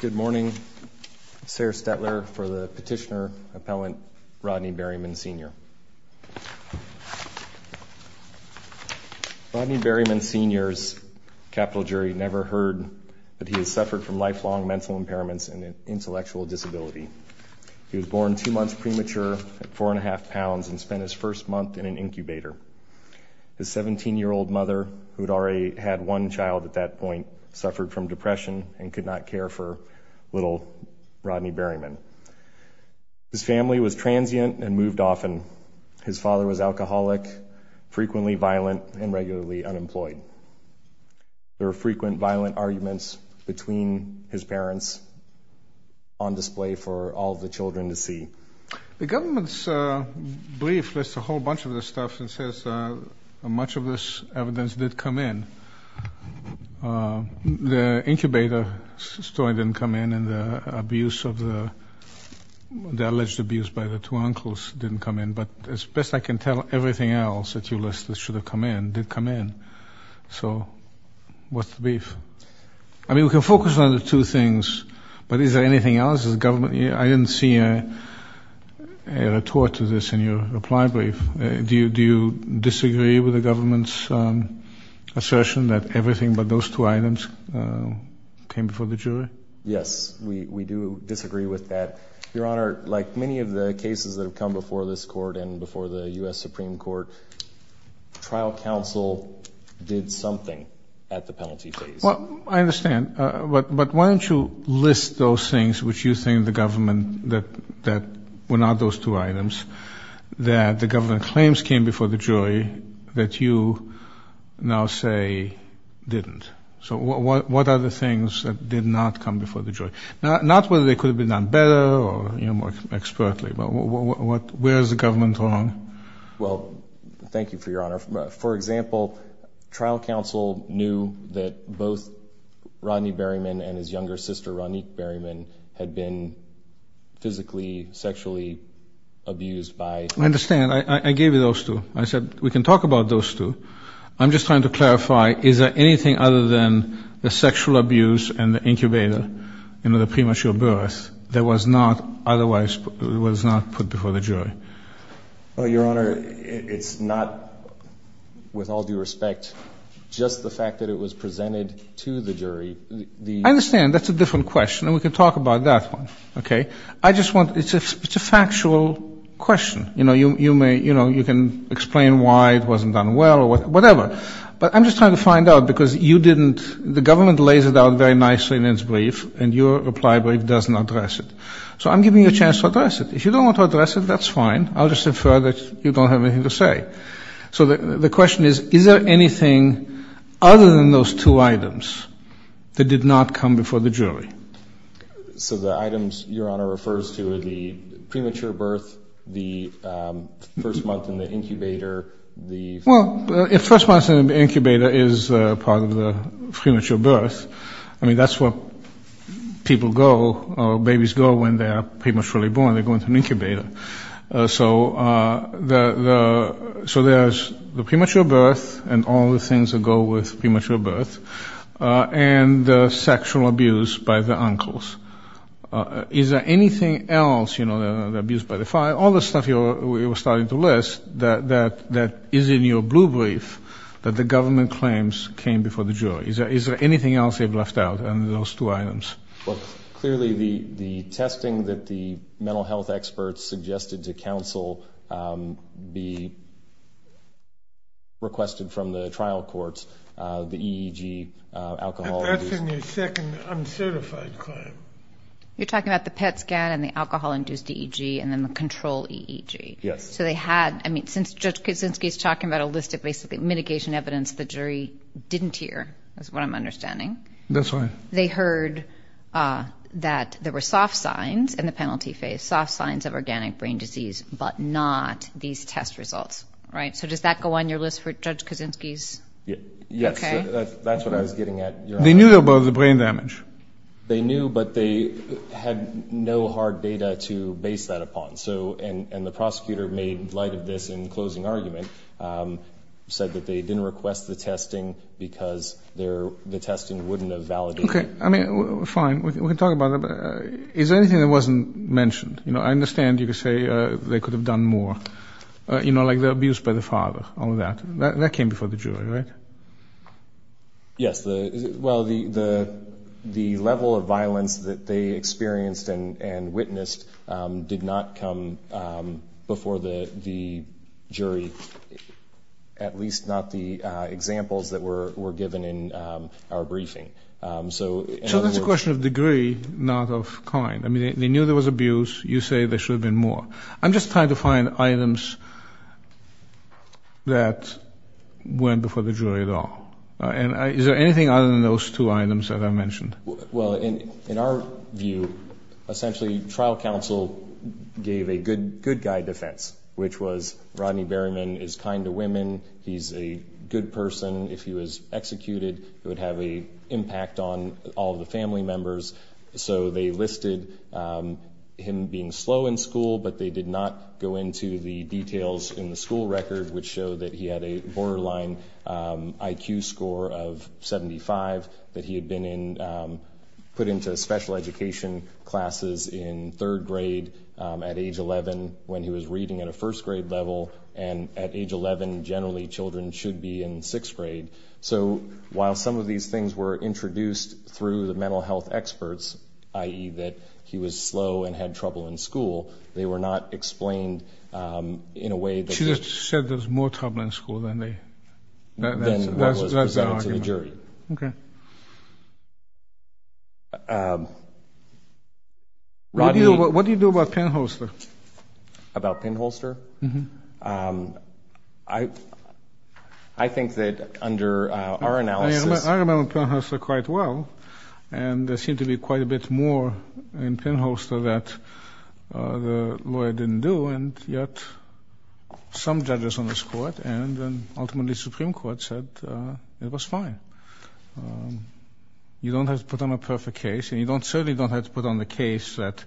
Good morning. Sarah Stettler for the petitioner-appellant Rodney Berryman, Sr. Rodney Berryman, Sr.'s capital jury never heard that he has suffered from lifelong mental impairments and an intellectual disability. He was born two months premature at four and a half pounds and spent his first month in an incubator. His 17 year old mother, who had already had one child at that point, suffered from depression and could not care for little Rodney Berryman. His family was transient and moved often. His father was alcoholic, frequently violent, and regularly unemployed. There are frequent violent arguments between his parents on display for all the children to see. The government's brief lists a much of this evidence did come in. The incubator story didn't come in and the abuse of the alleged abuse by the two uncles didn't come in, but as best I can tell everything else that you listed should have come in did come in. So what's the brief? I mean we can focus on the two things, but is there anything else? Is government, I didn't see a retort to this in your reply brief. Do you disagree with the government's assertion that everything but those two items came before the jury? Yes, we do disagree with that. Your Honor, like many of the cases that have come before this court and before the US Supreme Court, trial counsel did something at the penalty phase. I understand, but why don't you list those things which you think the government, that were not those two that you now say didn't. So what are the things that did not come before the jury? Not whether they could have been done better or, you know, more expertly, but where is the government wrong? Well, thank you for your honor. For example, trial counsel knew that both Rodney Berryman and his younger sister, Ronique Berryman, had been physically, sexually abused by... I understand. I gave you those two. I said we can talk about those two. I'm just trying to clarify, is there anything other than the sexual abuse and the incubator, you know, the premature birth, that was not otherwise, was not put before the jury? Your Honor, it's not, with all due respect, just the fact that it was presented to the jury. I understand, that's a different question and we can talk about that one, okay. I just want, it's a factual question. You know, you may, you know, you can explain why it wasn't done well or whatever. But I'm just trying to find out because you didn't, the government lays it out very nicely in its brief and your reply brief doesn't address it. So I'm giving you a chance to address it. If you don't want to address it, that's fine. I'll just infer that you don't have anything to say. So the question is, is there anything other than those two items that did not come before the jury? So the items your Honor refers to are the premature birth, the first month in the incubator, the... Well, if first month in the incubator is part of the premature birth, I mean, that's what people go, babies go when they are prematurely born. They go into an incubator. So the, so there's the sexual abuse by the uncles. Is there anything else, you know, the abuse by the father, all the stuff you were starting to list that is in your blue brief that the government claims came before the jury? Is there anything else they've left out under those two items? Well, clearly the testing that the mental health experts suggested to counsel be requested from the trial courts, the EEG, alcohol-induced... That's in your second uncertified claim. You're talking about the PET scan and the alcohol-induced EEG and then the control EEG. Yes. So they had, I mean, since Judge Kuczynski is talking about a list of basically mitigation evidence the jury didn't hear, that's what I'm understanding. That's right. They heard that there were soft signs in the penalty phase, soft signs of organic brain disease, but not these test results, right? So does that go on your list for Judge Kuczynski's... Yes, that's what I was getting at. They knew about the brain damage? They knew, but they had no hard data to base that upon. So, and the prosecutor made light of this in closing argument, said that they didn't request the testing because the testing wouldn't have validated... Okay, I mean, fine, we can talk about it. Is there anything that wasn't mentioned? You know, I understand you could say they could have done more, you know, like the abuse by the father, all that. That came before the jury, right? Yes, well, the level of violence that they experienced and witnessed did not come before the jury, at least not the examples that were given in our briefing. So that's a question of degree, not of kind. I mean, they knew there was abuse, you say there should have been more. I'm sure that wasn't before the jury at all. And is there anything other than those two items that I mentioned? Well, in our view, essentially, trial counsel gave a good guy defense, which was Rodney Berryman is kind to women. He's a good person. If he was executed, it would have an impact on all the family members. So they listed him being slow in school, but they did not go into the details in the school record which show that he had a borderline IQ score of 75, that he had been put into special education classes in third grade at age 11 when he was reading at a first-grade level, and at age 11, generally, children should be in sixth grade. So while some of these things were introduced through the mental health experts, i.e. that he was slow and had trouble in school, they were not explained in a way. She just said there's more trouble in school than what was presented to the jury. What do you do about Pinholster? About Pinholster? I think that under our analysis... I remember Pinholster quite well, and there seemed to be quite a bit more in this court, and ultimately the Supreme Court said it was fine. You don't have to put on a perfect case, and you certainly don't have to put on a case that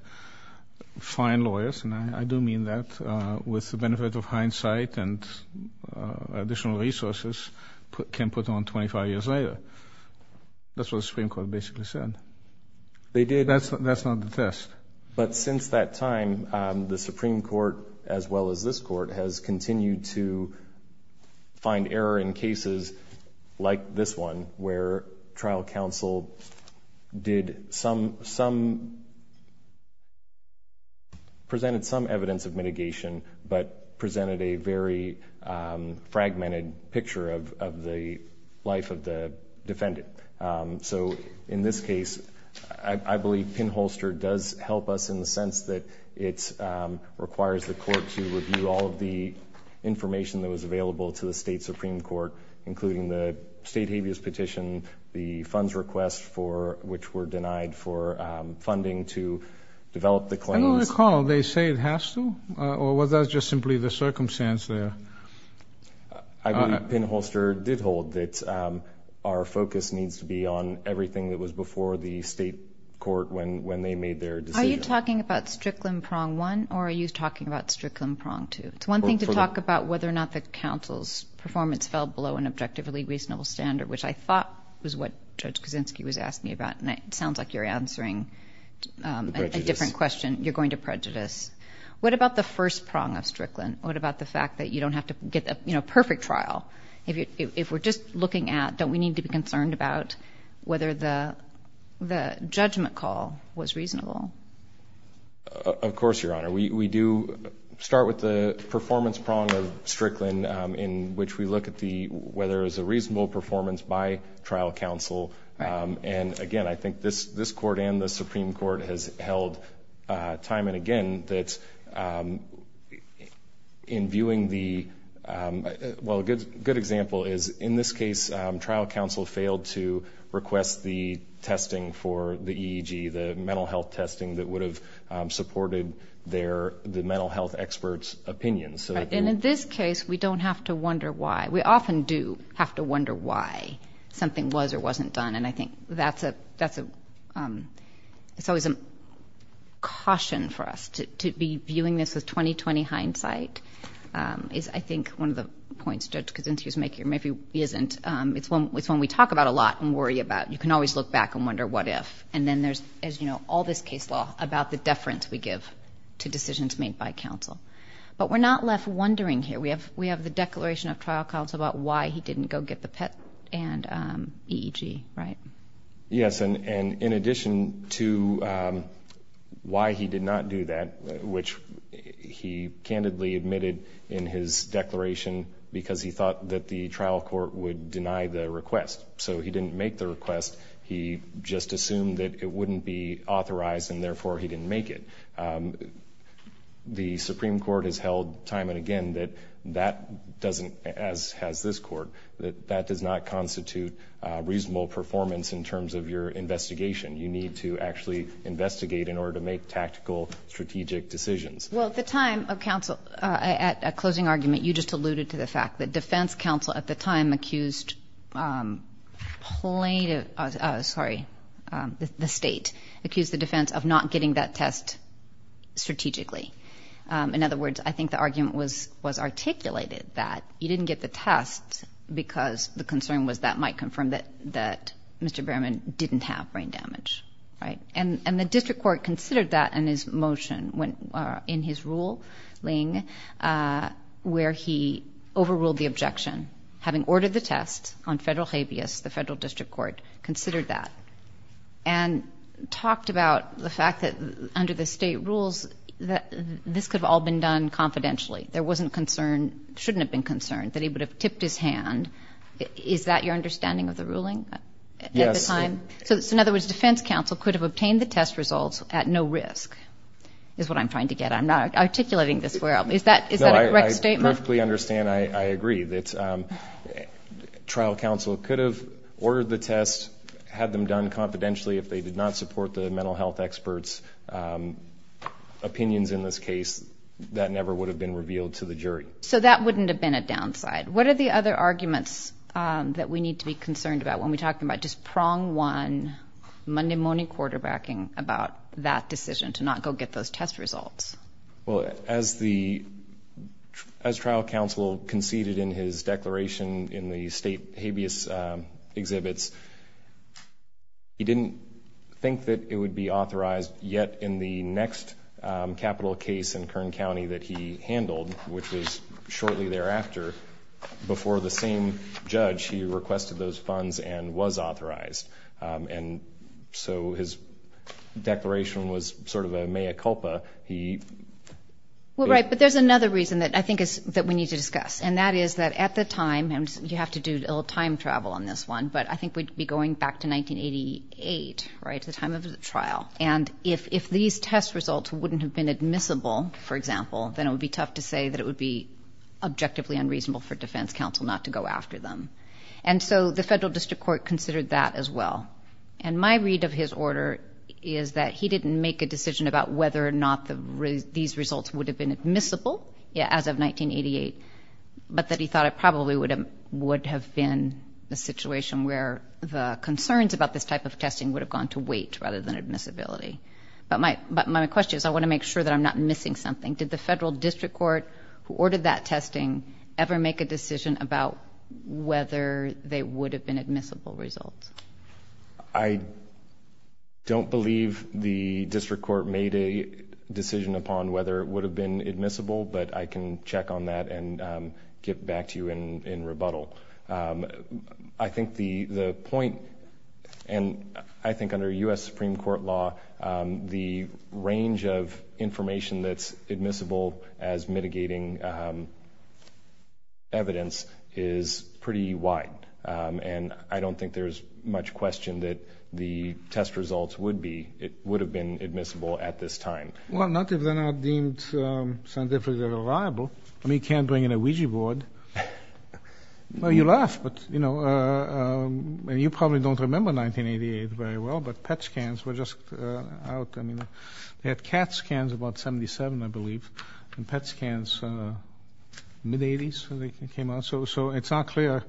fine lawyers, and I do mean that with the benefit of hindsight and additional resources, can put on 25 years later. That's what the Supreme Court basically said. That's not the test. But since that time, the Supreme Court, as well as this court, has continued to find error in cases like this one, where trial counsel did some... presented some evidence of mitigation, but presented a very fragmented picture of the life of the defendant. In this case, I believe Pinholster does help us in the sense that it requires the court to review all of the information that was available to the state Supreme Court, including the state habeas petition, the funds request which were denied for funding to develop the claims. I don't recall they say it has to, or was that just simply the circumstance there? I believe Pinholster did hold that our focus needs to be on everything that was before the state court when they made their decision. Are you talking about Strickland prong one, or are you talking about Strickland prong two? It's one thing to talk about whether or not the counsel's performance fell below an objectively reasonable standard, which I thought was what Judge Kaczynski was asking about, and it sounds like you're answering a different question. You're going to prejudice. What about the first prong of Strickland? What about the fact that you don't have to get a perfect trial? If we're just looking at, don't we need to be concerned about whether the judgment call was reasonable? Of course, Your Honor. We do start with the performance prong of Strickland in which we look at whether it was a reasonable performance by trial counsel. Again, I think this court and the Supreme Court has held time and again that in viewing the, well, a good example is in this case, trial counsel failed to request the testing for the EEG, the mental health testing that would have supported the mental health experts' opinions. In this case, we don't have to wonder why. We often do have to wonder why something was or wasn't done, and I think that's always a caution for us. To be viewing this with 20-20 hindsight is, I think, one of the points Judge Kaczynski is making, or maybe isn't. It's one we talk about a lot and worry about. You can always look back and wonder what if. And then there's, as you know, all this case law about the deference we give to decisions made by counsel. But we're not left wondering here. We have the declaration of trial counsel about why he didn't go get the PET and EEG, right? Yes, and in addition to why he did not do that, which he candidly admitted in his declaration because he thought that the trial court would deny the request. So he didn't make the request. He just assumed that it wouldn't be authorized, and therefore he didn't make it. The Supreme Court has held time and again that that doesn't, as has this court, that that does not constitute reasonable performance in terms of your investigation. You need to actually investigate in order to make tactical, strategic decisions. Well, at the time of counsel, at closing argument, you just alluded to the fact that defense counsel at the time accused plaintiff, sorry, the state, accused the defense of not getting that test strategically. In other words, I think the argument was articulated that he didn't get the test because the concern was that might confirm that Mr. Berman didn't have brain damage, right? And the district court considered that in his motion, in his ruling, where he overruled the objection, having ordered the test on federal habeas, the federal district court considered that and talked about the fact that under the state rules that this could have all been done confidentially. There wasn't concern, shouldn't have been concerned, that he would have tipped his hand. Is that your understanding of the ruling at the time? Yes. So in other words, defense counsel could have obtained the test results at no risk is what I'm trying to get. I'm not articulating this well. Is that a correct statement? No, I perfectly understand, I agree, that trial counsel could have ordered the test, had them done confidentially, if they did not support the mental health experts' opinions in this case, that never would have been revealed to the jury. So that wouldn't have been a downside. What are the other arguments that we need to be concerned about when we talk about just prong one, Monday morning quarterbacking about that decision to not go get those test results? Well, as trial counsel conceded in his declaration in the state habeas exhibits, he didn't think that it would be authorized yet in the next capital case in Kern County that he handled, which was shortly thereafter, before the same judge he requested those funds and was authorized. And so his declaration was sort of a mea culpa. Well, right, but there's another reason that I think we need to discuss, and that is that at the time, and you have to do a little time travel on this one, but I think we'd be going back to 1988, right, the time of the trial. And if these test results wouldn't have been admissible, for example, then it would be tough to say that it would be objectively unreasonable for defense counsel not to go after them. And so the federal district court considered that as well. And my read of his order is that he didn't make a decision about whether or not these results would have been admissible as of 1988, but that he thought it probably would have been a situation where the concerns about this type of testing would have gone to wait rather than admissibility. But my question is, I want to make sure that I'm not missing something. Did the federal district court who ordered that testing ever make a decision about whether they would have been admissible results? I don't believe the district court made a decision upon whether it would have been admissible, but I can check on that and get back to you in rebuttal. I think the point, and I think under U.S. Supreme Court law, the range of information that's admissible as mitigating evidence is pretty wide, and I don't think there's much question that the test results would have been admissible at this time. Well, not if they're not deemed scientifically reliable. I mean, you can't bring in a Ouija board. Well, you laugh, but, you know, and you probably don't remember 1988 very well, but PET scans were just out. I mean, they had CAT scans about 77, I believe, and PET scans mid-80s when they came out, so it's not clear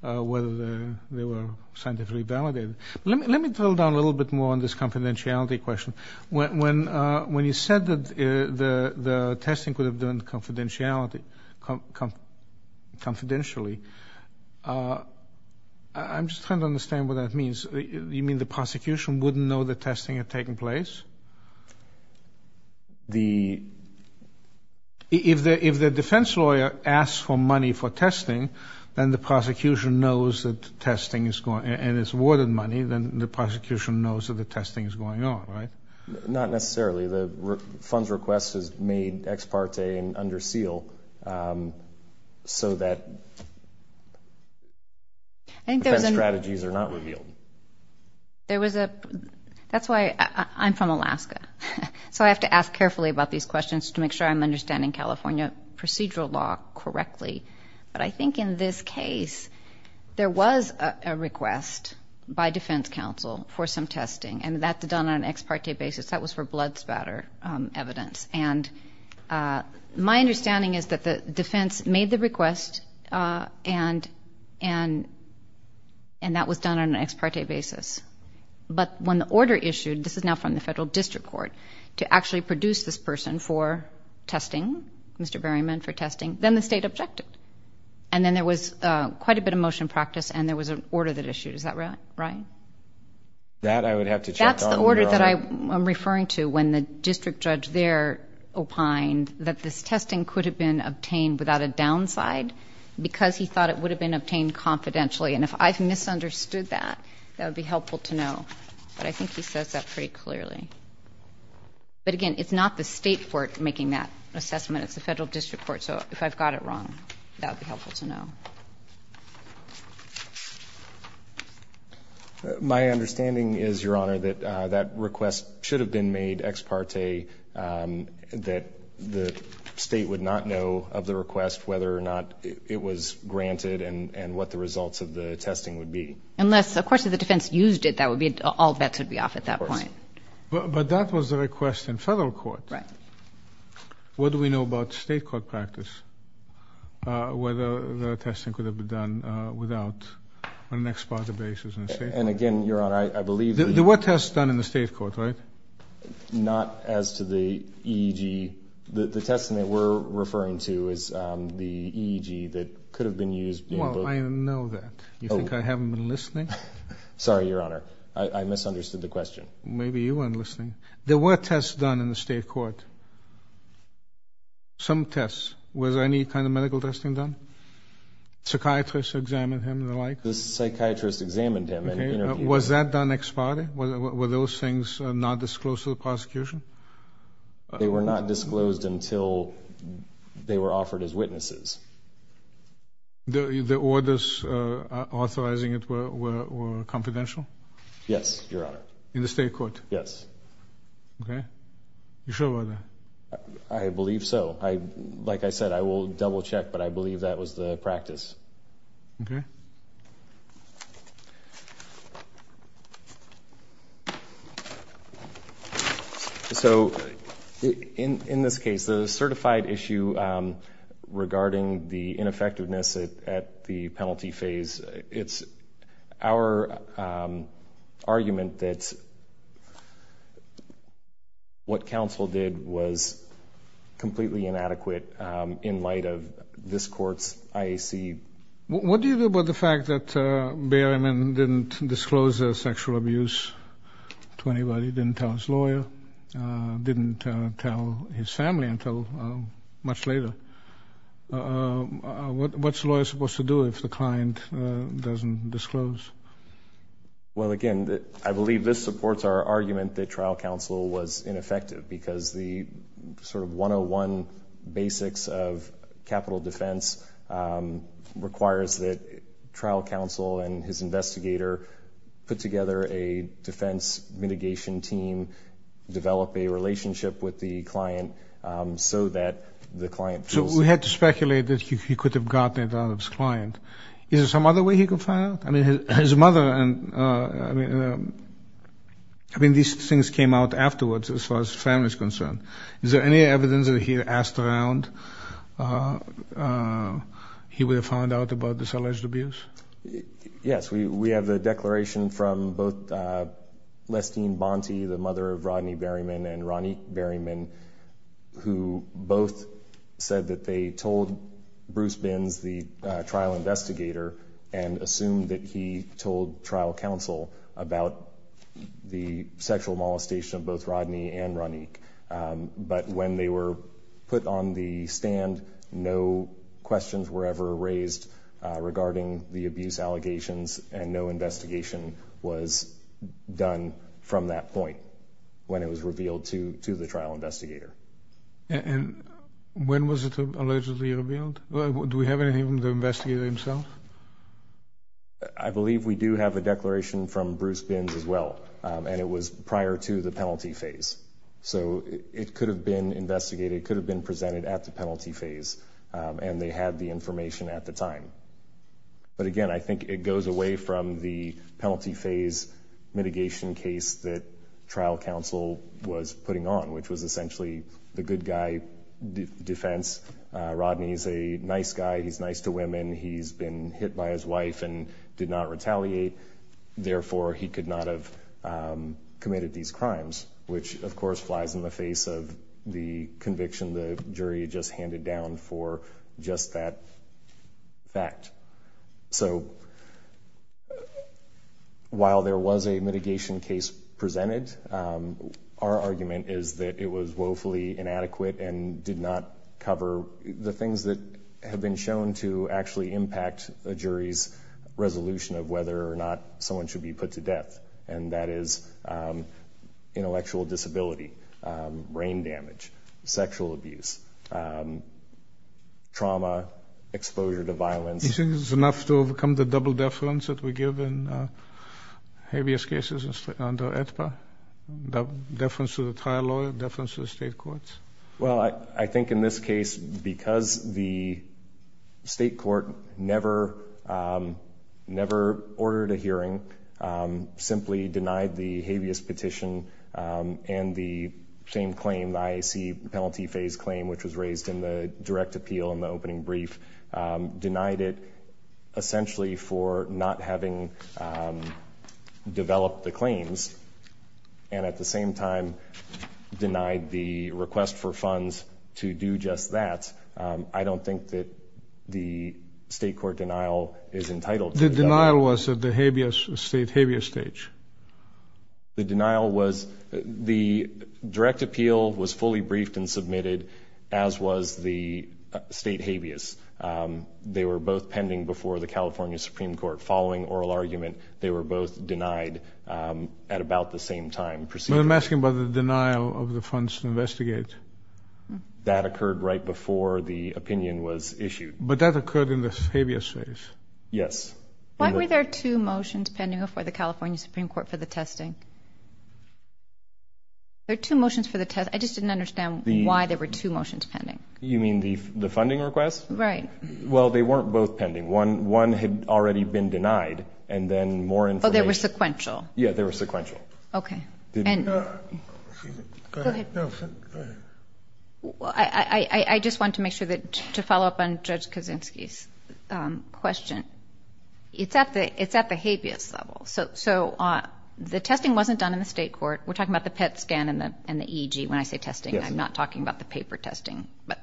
whether they were scientifically validated. Let me drill down a little bit more on this confidentiality question. When you said that the testing could have done confidentially, I'm just trying to understand what that means. You mean the prosecution wouldn't know that testing had taken place? If the defense lawyer asks for money for testing, then the prosecution knows that testing is going on, and it's awarded money, then the prosecution knows that the testing is going on, right? Not necessarily. The funds request is made ex parte and under seal so that defense strategies are not revealed. That's why I'm from Alaska, so I have to ask carefully about these questions to make sure I'm understanding California procedural law correctly, but I think in this case there was a request by defense counsel for some testing, and that's done on an ex parte basis. That was for blood spatter evidence, and my understanding is that the defense made the request, and that was done on an ex parte basis, but when the order issued, this is now from the federal district court, to actually produce this person for testing, Mr. Berryman, for testing, then the state objected, and then there was quite a bit of motion practice and there was an order that issued, is that right? That I would have to check on. That's the order that I'm referring to when the district judge there opined that this testing could have been obtained without a downside because he thought it would have been obtained confidentially, and if I've misunderstood that, that would be helpful to know, but I think he says that pretty clearly. But again, it's not the state court making that assessment, it's the federal district court, so if I've got it wrong, that would be helpful to know. My understanding is, Your Honor, that that request should have been made ex parte, that the state would not know of the request, whether or not it was granted, and what the results of the testing would be. Unless, of course, if the defense used it, all bets would be off at that point. But that was the request in federal court. What do we know about state court practice, whether the testing could have been done without an ex parte basis? And again, Your Honor, I believe that... Well, I know that. You think I haven't been listening? Sorry, Your Honor. I misunderstood the question. Maybe you weren't listening. There were tests done in the state court. Some tests. Was any kind of medical testing done? Psychiatrists examined him and the like? The psychiatrist examined him and interviewed him. Was that done ex parte? Were those things not disclosed to the prosecution? They were not disclosed until they were offered as witnesses. The orders authorizing it were confidential? Yes, Your Honor. In the state court? Yes. Okay. You sure about that? I believe so. Like I said, I will double check, but I believe that was the practice. Okay. So in this case, the certified issue regarding the ineffectiveness at the penalty phase, it's our argument that what counsel did was completely inadequate in light of this court's IAC. What do you do about the fact that Berryman didn't disclose his sexual abuse to anybody, didn't tell his lawyer, didn't tell his family until much later? What's a lawyer supposed to do if the client doesn't disclose? Well, again, I believe this supports our argument that trial counsel was ineffective because the sort of 101 basics of capital defense requires that trial counsel and his investigator put together a defense mitigation team, develop a relationship with the client so that the client feels safe. So we had to speculate that he could have gotten it out of his client. Is there some other way he could find out? I mean, his mother and, I mean, these things came out afterwards as far as family is concerned. Is there any evidence that if he had asked around, he would have found out about this alleged abuse? Yes. We have a declaration from both Lestine Bonte, the mother of Rodney Berryman, and Ronique Berryman, who both said that they told Bruce Binns, the trial investigator, and assumed that he told trial counsel about the sexual molestation of both Rodney and Ronique. But when they were put on the stand, no questions were ever raised regarding the abuse allegations, and no investigation was done from that point when it was revealed to the trial investigator. And when was it allegedly revealed? Do we have anything from the investigator himself? I believe we do have a declaration from Bruce Binns as well, and it was prior to the penalty phase. So it could have been investigated, it could have been presented at the penalty phase, and they had the information at the time. But again, I think it goes away from the penalty phase mitigation case that trial counsel was putting on, which was essentially the good guy defense. Rodney is a nice guy, he's nice to women, he's been hit by his wife and did not retaliate, therefore he could not have committed these crimes, which, of course, flies in the face of the conviction the jury just handed down for just that fact. So while there was a mitigation case presented, our argument is that it was woefully inadequate and did not cover the things that have been shown to actually impact a jury's resolution of whether or not someone should be put to death, and that is intellectual disability, brain damage, sexual abuse, trauma, exposure to violence. Do you think this is enough to overcome the double deference that we give in heaviest cases under AEDPA, deference to the trial lawyer, deference to the state courts? Well, I think in this case, because the state court never ordered a hearing, simply denied the habeas petition and the same claim, the IAC penalty phase claim, which was raised in the direct appeal in the opening brief, denied it essentially for not having developed the claims, and at the same time denied the request for funds to do just that. I don't think that the state court denial is entitled to that. The denial was at the state habeas stage? The denial was the direct appeal was fully briefed and submitted, as was the state habeas. They were both pending before the California Supreme Court. Following oral argument, they were both denied at about the same time. But I'm asking about the denial of the funds to investigate. That occurred right before the opinion was issued. But that occurred in the habeas phase. Yes. Why were there two motions pending before the California Supreme Court for the testing? There are two motions for the test. I just didn't understand why there were two motions pending. You mean the funding request? Right. Well, they weren't both pending. One had already been denied, and then more information. Oh, they were sequential? Yeah, they were sequential. Okay. Go ahead. I just want to make sure to follow up on Judge Kaczynski's question. It's at the habeas level. So the testing wasn't done in the state court. We're talking about the PET scan and the EEG when I say testing. I'm not talking about the paper testing. But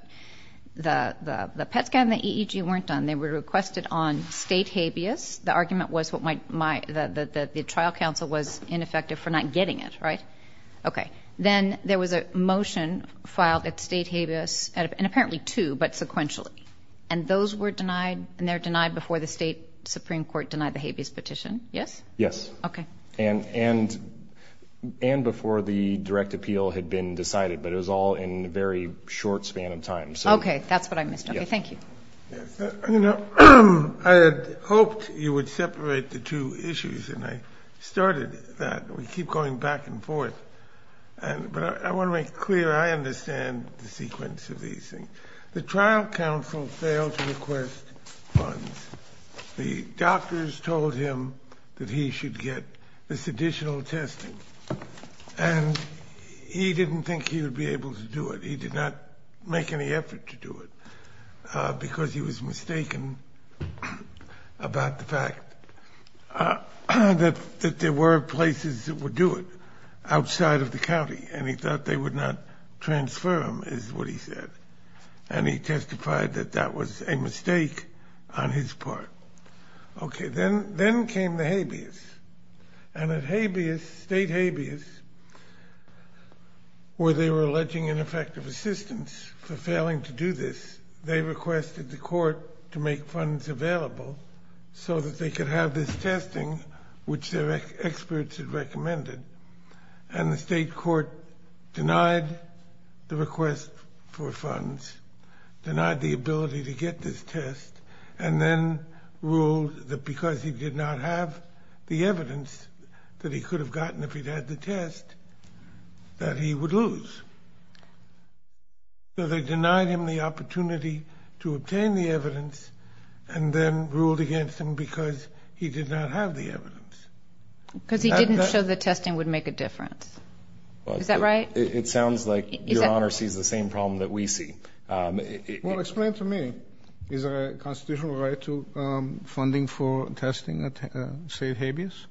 the PET scan and the EEG weren't done. They were requested on state habeas. The argument was that the trial counsel was ineffective for not getting it, right? Okay. Then there was a motion filed at state habeas, and apparently two, but sequentially. And those were denied? And they were denied before the state Supreme Court denied the habeas petition? Yes? Yes. Okay. And before the direct appeal had been decided. But it was all in a very short span of time. Okay. That's what I missed. Okay. Thank you. I had hoped you would separate the two issues, and I started that. We keep going back and forth. But I want to make clear I understand the sequence of these things. The trial counsel failed to request funds. The doctors told him that he should get this additional testing. And he didn't think he would be able to do it. He did not make any effort to do it because he was mistaken about the fact that there were places that would do it outside of the county. And he thought they would not transfer him is what he said. And he testified that that was a mistake on his part. Okay. Then came the habeas. And at habeas, state habeas, where they were alleging ineffective assistance for failing to do this, they requested the court to make funds available so that they could have this testing, which their experts had recommended. And the state court denied the request for funds, denied the ability to get this test, and then ruled that because he did not have the evidence that he could have gotten if he'd had the test, that he would lose. So they denied him the opportunity to obtain the evidence and then ruled against him because he did not have the evidence. Because he didn't show that testing would make a difference. Is that right? It sounds like Your Honor sees the same problem that we see. Well, explain to me. Is there a constitutional right to funding for testing at state habeas?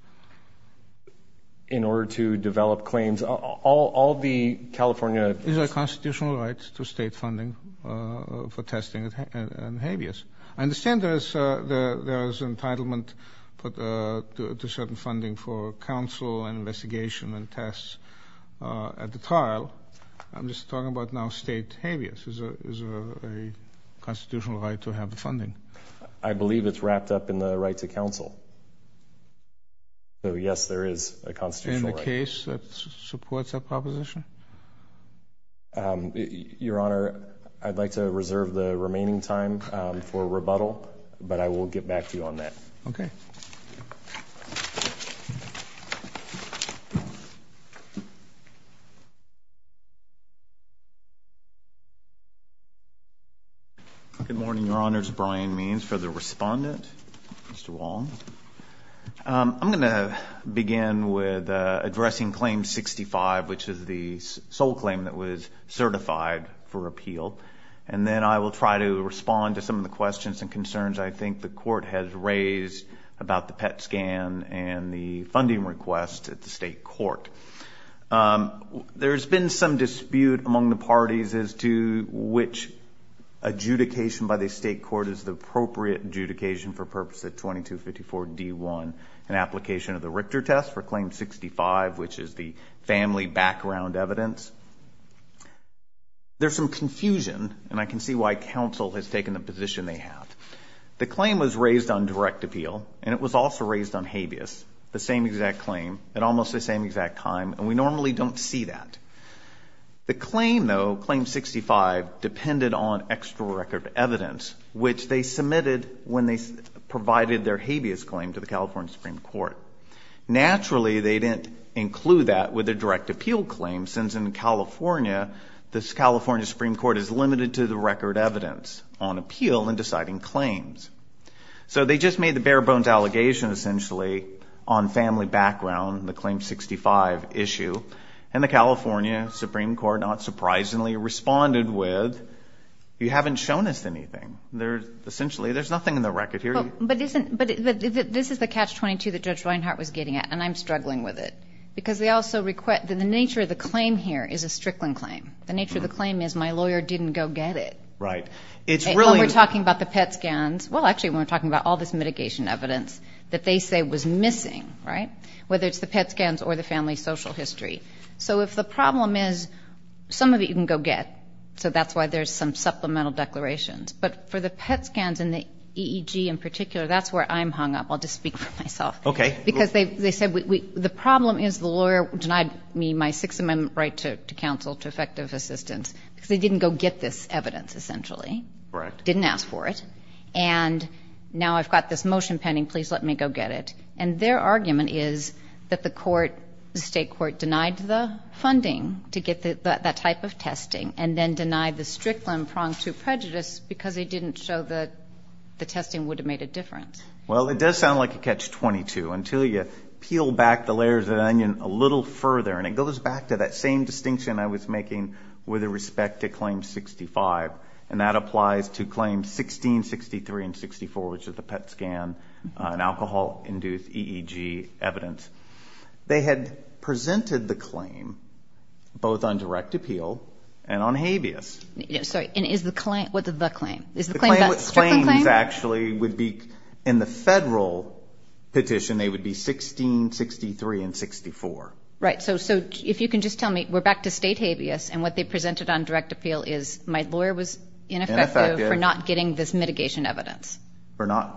In order to develop claims? All the California- Is there a constitutional right to state funding for testing at habeas? I understand there is entitlement to certain funding for counsel and investigation and tests at the trial. I'm just talking about now state habeas. Is there a constitutional right to have the funding? I believe it's wrapped up in the right to counsel. So, yes, there is a constitutional right. In the case that supports that proposition? Your Honor, I'd like to reserve the remaining time for rebuttal, but I will get back to you on that. Okay. Thank you. Good morning, Your Honors. Brian Means for the respondent. Mr. Wong. I'm going to begin with addressing Claim 65, which is the sole claim that was certified for appeal. And then I will try to respond to some of the questions and concerns I think the court has raised about the PET scan and the funding request at the state court. There's been some dispute among the parties as to which adjudication by the state court is the appropriate adjudication for purpose of 2254 D1, an application of the Richter test for Claim 65, which is the family background evidence. There's some confusion, and I can see why counsel has taken the position they have. The claim was raised on direct appeal, and it was also raised on habeas, the same exact claim at almost the same exact time, and we normally don't see that. The claim, though, Claim 65, depended on extra record evidence, which they submitted when they provided their habeas claim to the California Supreme Court. Naturally, they didn't include that with their direct appeal claim, since in California, the California Supreme Court is limited to the record evidence on appeal and deciding claims. So they just made the bare-bones allegation, essentially, on family background, the Claim 65 issue, and the California Supreme Court, not surprisingly, responded with, you haven't shown us anything. Essentially, there's nothing in the record here. But this is the Catch-22 that Judge Reinhart was getting at, and I'm struggling with it, because the nature of the claim here is a Strickland claim. The nature of the claim is my lawyer didn't go get it. Right. When we're talking about the PET scans, well, actually, when we're talking about all this mitigation evidence that they say was missing, right, whether it's the PET scans or the family social history. So if the problem is some of it you can go get, so that's why there's some supplemental declarations. But for the PET scans and the EEG in particular, that's where I'm hung up. I'll just speak for myself. Okay. Because they said the problem is the lawyer denied me my Sixth Amendment right to counsel, to effective assistance, because they didn't go get this evidence, essentially. Correct. Didn't ask for it. And now I've got this motion pending, please let me go get it. And their argument is that the state court denied the funding to get that type of testing and then denied the Strickland prong to prejudice because they didn't show that the testing would have made a difference. Well, it does sound like a Catch-22 until you peel back the layers of the onion a little further, and it goes back to that same distinction I was making with respect to Claim 65, and that applies to Claims 16, 63, and 64, which is the PET scan and alcohol-induced EEG evidence. They had presented the claim both on direct appeal and on habeas. Sorry, and is the claim the claim? Is the claim the Strickland claim? The claim actually would be in the federal petition, they would be 16, 63, and 64. Right, so if you can just tell me, we're back to state habeas, and what they presented on direct appeal is my lawyer was ineffective for not getting this mitigation evidence.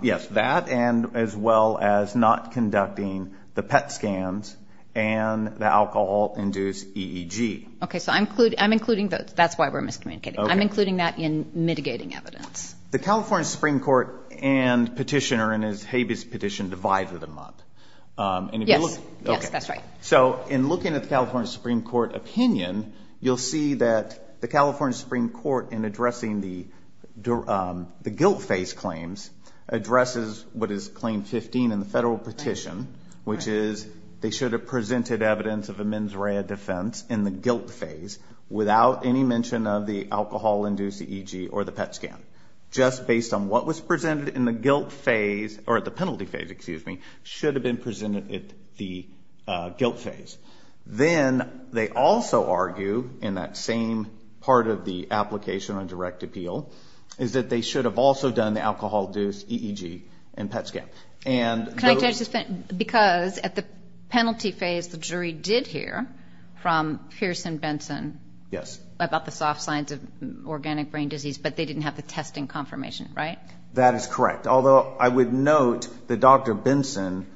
Yes, that and as well as not conducting the PET scans and the alcohol-induced EEG. Okay, so I'm including those. That's why we're miscommunicating. I'm including that in mitigating evidence. The California Supreme Court and petitioner in his habeas petition divided them up. Yes, that's right. So in looking at the California Supreme Court opinion, you'll see that the California Supreme Court in addressing the guilt phase claims addresses what is Claim 15 in the federal petition, which is they should have presented evidence of a mens rea defense in the guilt phase without any mention of the alcohol-induced EEG or the PET scan. Just based on what was presented in the guilt phase, or the penalty phase, excuse me, should have been presented at the guilt phase. Then they also argue in that same part of the application on direct appeal is that they should have also done the alcohol-induced EEG and PET scan. Because at the penalty phase, the jury did hear from Pearson Benson about the soft signs of organic brain disease, but they didn't have the testing confirmation, right? That is correct, although I would note that Dr. Benson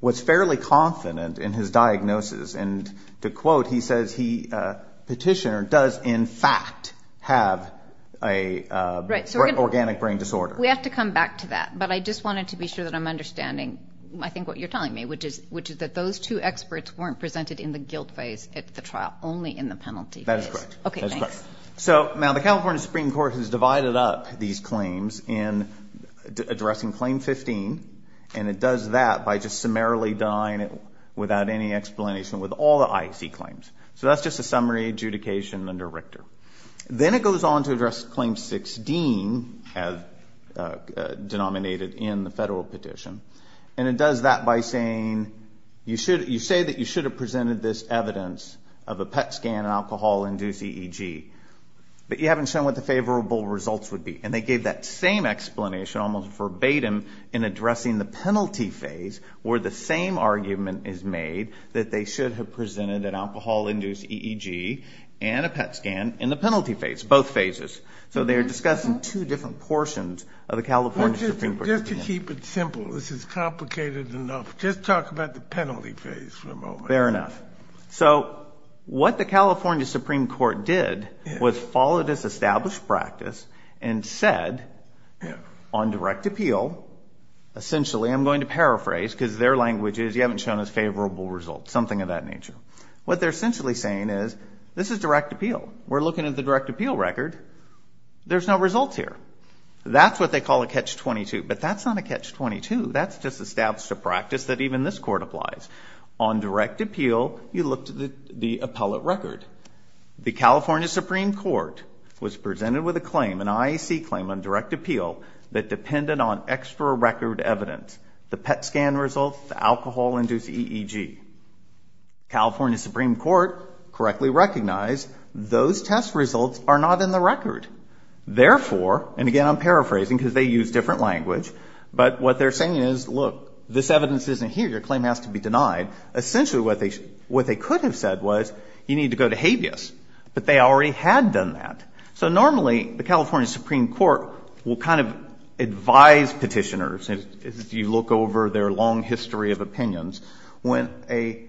was fairly confident in his diagnosis. And to quote, he says he, petitioner, does in fact have an organic brain disorder. We have to come back to that, but I just wanted to be sure that I'm understanding, I think, what you're telling me, which is that those two experts weren't presented in the guilt phase at the trial, only in the penalty phase. That is correct. Okay, thanks. So now the California Supreme Court has divided up these claims in addressing Claim 15, and it does that by just summarily denying it without any explanation with all the IEC claims. So that's just a summary adjudication under Richter. Then it goes on to address Claim 16, as denominated in the federal petition, and it does that by saying, you say that you should have presented this evidence of a PET scan and alcohol-induced EEG, but you haven't shown what the favorable results would be. And they gave that same explanation, almost verbatim, in addressing the penalty phase, where the same argument is made that they should have presented an alcohol-induced EEG and a PET scan in the penalty phase, both phases. So they're discussing two different portions of the California Supreme Court opinion. Just to keep it simple, this is complicated enough, just talk about the penalty phase for a moment. Fair enough. So what the California Supreme Court did was follow this established practice and said on direct appeal, essentially, I'm going to paraphrase because their language is you haven't shown us favorable results, something of that nature. What they're essentially saying is this is direct appeal. We're looking at the direct appeal record. There's no results here. That's what they call a catch-22, but that's not a catch-22. That's just established a practice that even this court applies. On direct appeal, you look to the appellate record. The California Supreme Court was presented with a claim, an IAC claim on direct appeal, that depended on extra record evidence, the PET scan results, the alcohol-induced EEG. California Supreme Court correctly recognized those test results are not in the record. Therefore, and again I'm paraphrasing because they use different language, but what they're saying is, look, this evidence isn't here. Your claim has to be denied. Essentially what they could have said was you need to go to habeas, but they already had done that. So normally the California Supreme Court will kind of advise petitioners, as you look over their long history of opinions, when a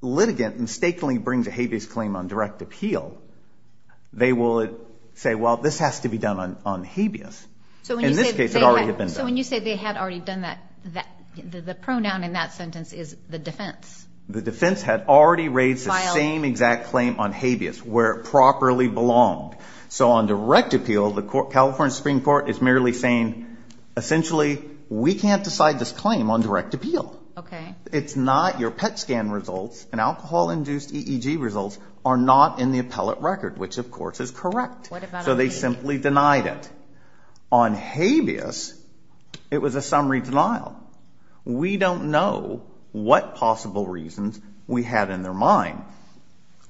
litigant mistakenly brings a habeas claim on direct appeal, they will say, well, this has to be done on habeas. In this case it already had been done. So when you say they had already done that, the pronoun in that sentence is the defense. The defense had already raised the same exact claim on habeas where it properly belonged. So on direct appeal, the California Supreme Court is merely saying, essentially we can't decide this claim on direct appeal. It's not your PET scan results and alcohol-induced EEG results are not in the appellate record, which of course is correct. So they simply denied it. On habeas, it was a summary denial. We don't know what possible reasons we have in their mind.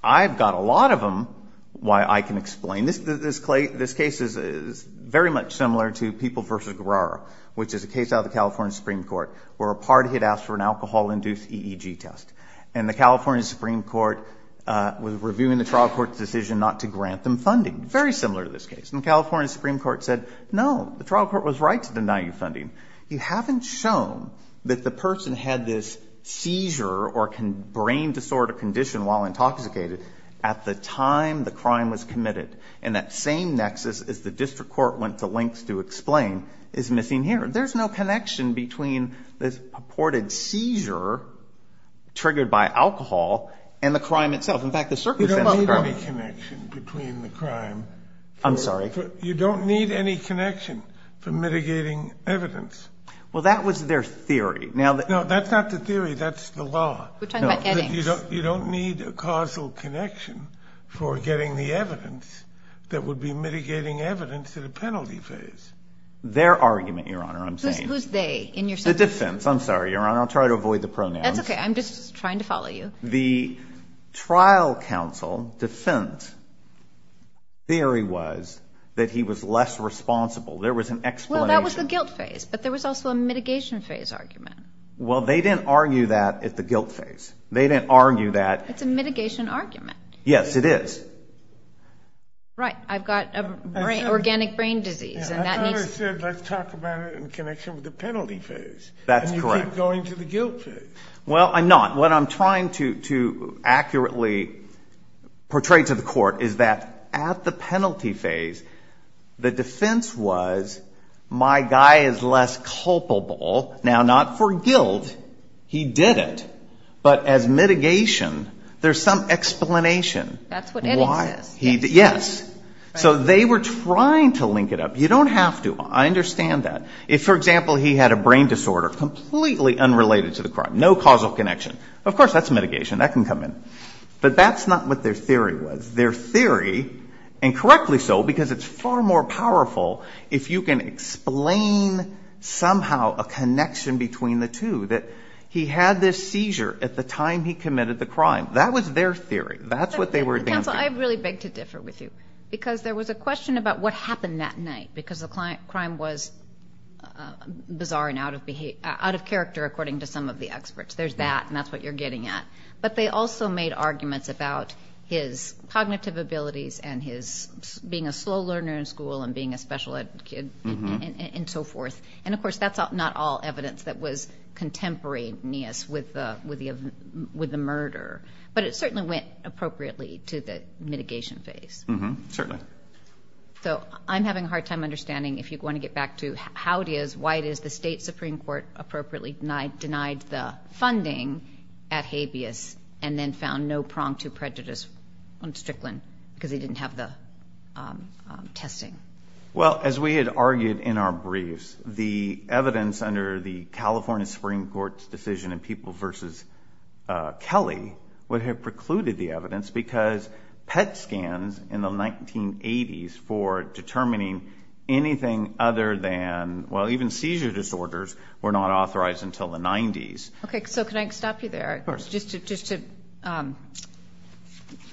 I've got a lot of them why I can explain. This case is very much similar to People v. Guerrero, which is a case out of the California Supreme Court where a party had asked for an alcohol-induced EEG test. And the California Supreme Court was reviewing the trial court's decision not to grant them funding. Very similar to this case. And the California Supreme Court said, no, the trial court was right to deny you funding. You haven't shown that the person had this seizure or brain disorder condition while intoxicated at the time the crime was committed. And that same nexus, as the district court went to lengths to explain, is missing here. There's no connection between this purported seizure triggered by alcohol and the crime itself. You don't need any connection between the crime. I'm sorry? You don't need any connection for mitigating evidence. Well, that was their theory. No, that's not the theory. That's the law. We're talking about Eddings. You don't need a causal connection for getting the evidence that would be mitigating evidence at a penalty phase. Their argument, Your Honor, I'm saying. Who's they in your sentence? The defense. I'm sorry, Your Honor. I'll try to avoid the pronouns. That's okay. I'm just trying to follow you. The trial counsel defense theory was that he was less responsible. There was an explanation. Well, that was the guilt phase. But there was also a mitigation phase argument. Well, they didn't argue that at the guilt phase. They didn't argue that. It's a mitigation argument. Yes, it is. Right. I've got organic brain disease. I thought I said let's talk about it in connection with the penalty phase. That's correct. And you keep going to the guilt phase. Well, I'm not. What I'm trying to accurately portray to the court is that at the penalty phase, the defense was my guy is less culpable. Now, not for guilt. He did it. But as mitigation, there's some explanation. That's what it is. Yes. So they were trying to link it up. You don't have to. I understand that. If, for example, he had a brain disorder completely unrelated to the crime, no causal connection. Of course, that's mitigation. That can come in. But that's not what their theory was. Their theory, and correctly so because it's far more powerful if you can explain somehow a connection between the two, that he had this seizure at the time he committed the crime. That was their theory. That's what they were advancing. Counsel, I really beg to differ with you because there was a question about what happened that night because the crime was bizarre and out of character according to some of the experts. There's that, and that's what you're getting at. But they also made arguments about his cognitive abilities and his being a slow learner in school and being a special ed kid and so forth. And, of course, that's not all evidence that was contemporaneous with the murder. But it certainly went appropriately to the mitigation phase. Certainly. So I'm having a hard time understanding, if you want to get back to how it is, why it is, the state Supreme Court appropriately denied the funding at Habeas and then found no prong to prejudice on Strickland because he didn't have the testing. Well, as we had argued in our briefs, the evidence under the California Supreme Court's decision in People v. Kelly would have precluded the evidence because PET scans in the 1980s for determining anything other than, well, even seizure disorders were not authorized until the 90s. Okay, so can I stop you there? Of course. Just to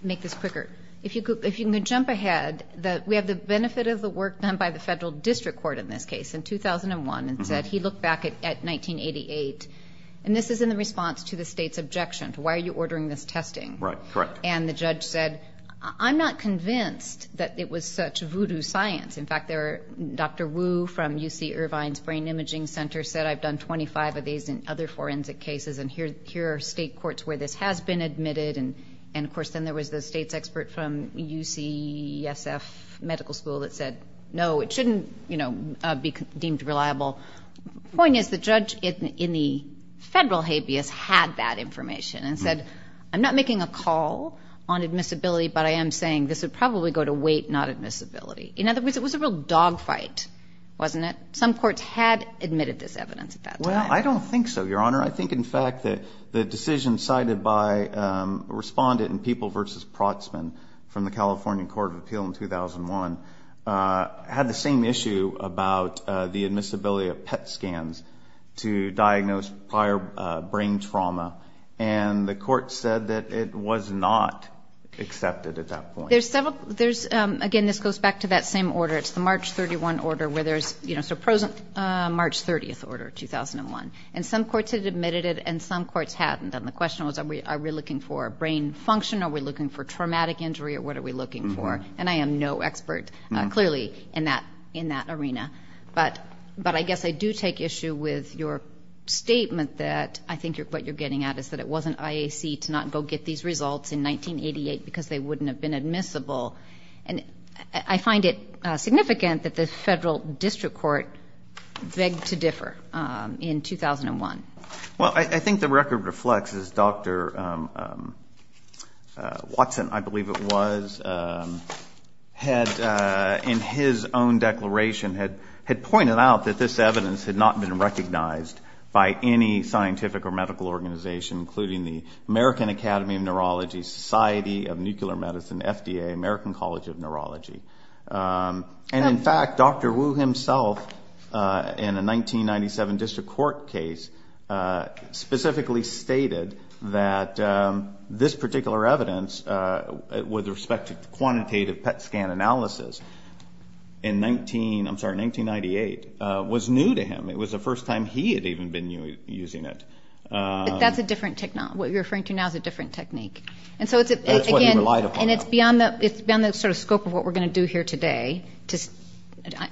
make this quicker, if you can jump ahead, we have the benefit of the work done by the federal district court in this case in 2001 and said he looked back at 1988, and this is in response to the state's objection, to why are you ordering this testing. Right, correct. And the judge said, I'm not convinced that it was such voodoo science. In fact, Dr. Wu from UC Irvine's Brain Imaging Center said, I've done 25 of these in other forensic cases, and here are state courts where this has been admitted. And, of course, then there was the state's expert from UCSF Medical School that said, no, it shouldn't be deemed reliable. The point is the judge in the federal Habeas had that information and said, I'm not making a call on admissibility, but I am saying this would probably go to weight, not admissibility. In other words, it was a real dogfight, wasn't it? Some courts had admitted this evidence at that time. Well, I don't think so, Your Honor. I think, in fact, the decision cited by a respondent in People v. Protzman from the California Court of Appeal in 2001 had the same issue about the admissibility of PET scans to diagnose prior brain trauma and the court said that it was not accepted at that point. Again, this goes back to that same order. It's the March 31 order where there's a March 30 order, 2001. And some courts had admitted it and some courts hadn't. And the question was, are we looking for brain function? Are we looking for traumatic injury, or what are we looking for? And I am no expert, clearly, in that arena. But I guess I do take issue with your statement that I think what you're getting at is that it wasn't IAC to not go get these results in 1988 because they wouldn't have been admissible. And I find it significant that the federal district court begged to differ in 2001. Well, I think the record reflects this. Dr. Watson, I believe it was, had in his own declaration had pointed out that this evidence had not been recognized by any scientific or medical organization, including the American Academy of Neurology, Society of Nuclear Medicine, FDA, American College of Neurology. And, in fact, Dr. Wu himself, in a 1997 district court case, specifically stated that this particular evidence with respect to quantitative PET scan analysis in 1998 was new to him. It was the first time he had even been using it. But that's a different technique. What you're referring to now is a different technique. That's what he relied upon. And it's beyond the sort of scope of what we're going to do here today.